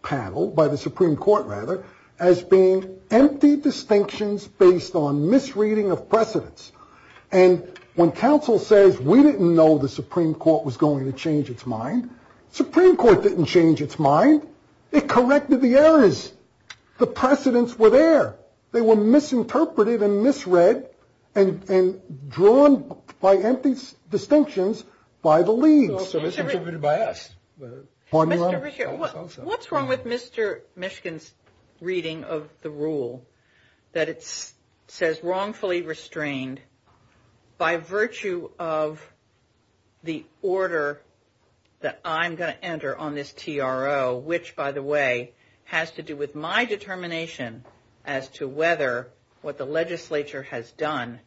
panel, by the Supreme Court, rather, as being empty distinctions based on misreading of precedence. And when counsel says we didn't know the Supreme Court was going to change its mind, Supreme Court didn't change its mind. It corrected the errors. The precedents were there. They were misinterpreted and misread and drawn by empty distinctions by the league. But what's wrong with Mr. Mishkin's reading of the rule that it says wrongfully restrained by virtue of the order that I'm going to enter on this T.R.O. which, by the way, has to do with my determination as to whether what the legislature has done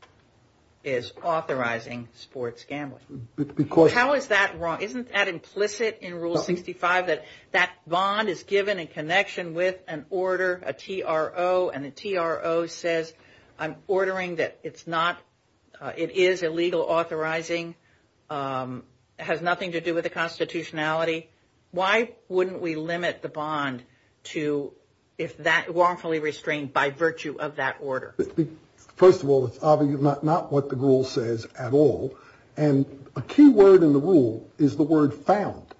is authorizing sports gambling. How is that wrong? Isn't that implicit in Rule 65 that that bond is given in connection with an order, a T.R.O.? And the T.R.O. says I'm ordering that it is illegal authorizing, has nothing to do with the constitutionality. Why wouldn't we limit the bond to if that wrongfully restrained by virtue of that order? First of all, it's not what the rule says at all. And a key word in the rule is the word found,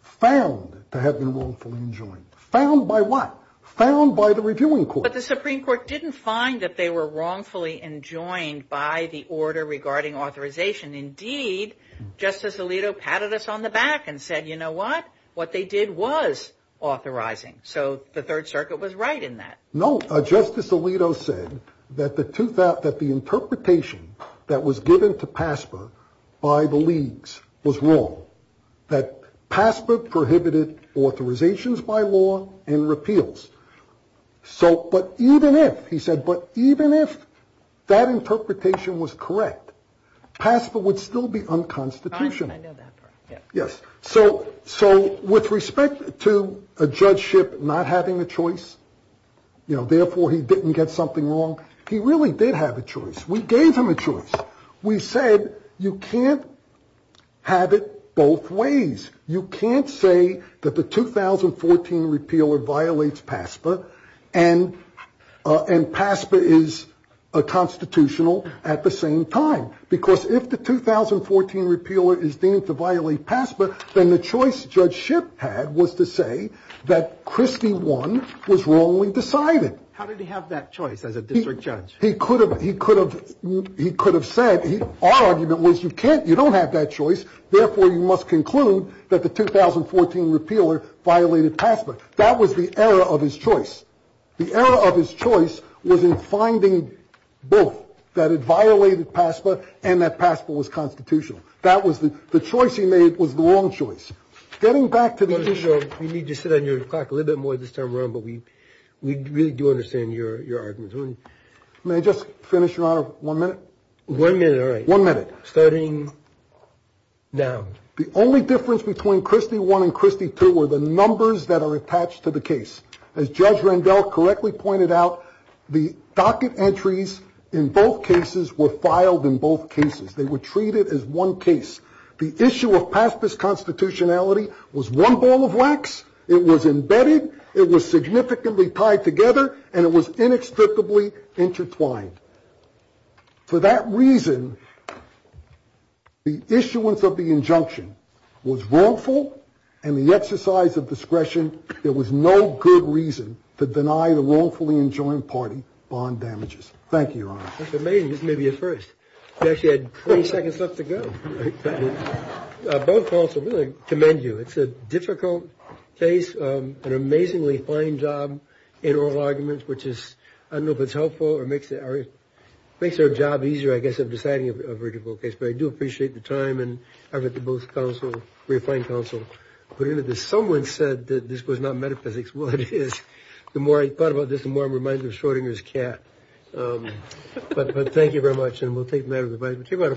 found to have been wrongfully enjoined. Found by what? Found by the reviewing court. But the Supreme Court didn't find that they were wrongfully enjoined by the order regarding authorization. Indeed, Justice Alito patted us on the back and said, you know what, what they did was authorizing. So the Third Circuit was right in that. No, Justice Alito said that the interpretation that was given to PASPA by the leagues was wrong. That PASPA prohibited authorizations by law and repeals. So, but even if, he said, but even if that interpretation was correct, PASPA would still be unconstitutional. Yes. So, so with respect to a judgeship not having a choice, you know, therefore he didn't get something wrong. He really did have a choice. We gave him a choice. We said you can't have it both ways. You can't say that the 2014 repeal violates PASPA and and PASPA is a constitutional at the same time. Because if the 2014 repeal is deemed to violate PASPA, then the choice judgeship had was to say that Christie one was wrongly decided. How did he have that choice as a district judge? He could have he could have he could have said he argument was you can't you don't have that choice. Therefore, you must conclude that the 2014 repealer violated PASPA. That was the error of his choice. The error of his choice was in finding both that it violated PASPA and that PASPA was constitutional. That was the choice he made was the wrong choice. Getting back to the issue. We need to sit on your clock a little bit more this time around, but we really do understand your arguments. May I just finish your honor one minute? One minute. All right. One minute. Starting now. The only difference between Christie one and Christie two were the numbers that are attached to the case. As Judge Randell correctly pointed out, the docket entries in both cases were filed in both cases. They were treated as one case. The issue of PASPA's constitutionality was one ball of wax. It was embedded. It was significantly tied together and it was inextricably intertwined. For that reason, the issuance of the injunction was wrongful and the exercise of discretion. There was no good reason to deny the wrongfully enjoined party bond damages. Thank you. That's amazing. This may be a first. You actually had 20 seconds left to go. Both also really commend you. It's a difficult case. An amazingly fine job in oral arguments, which is I don't know if it's helpful or makes it makes our job easier, I guess, of deciding a critical case. But I do appreciate the time and effort to both counsel refined counsel. But someone said that this was not metaphysics. Well, it is. The more I thought about this, the more I'm reminded of Schrodinger's cat. But thank you very much. And we'll take that advice.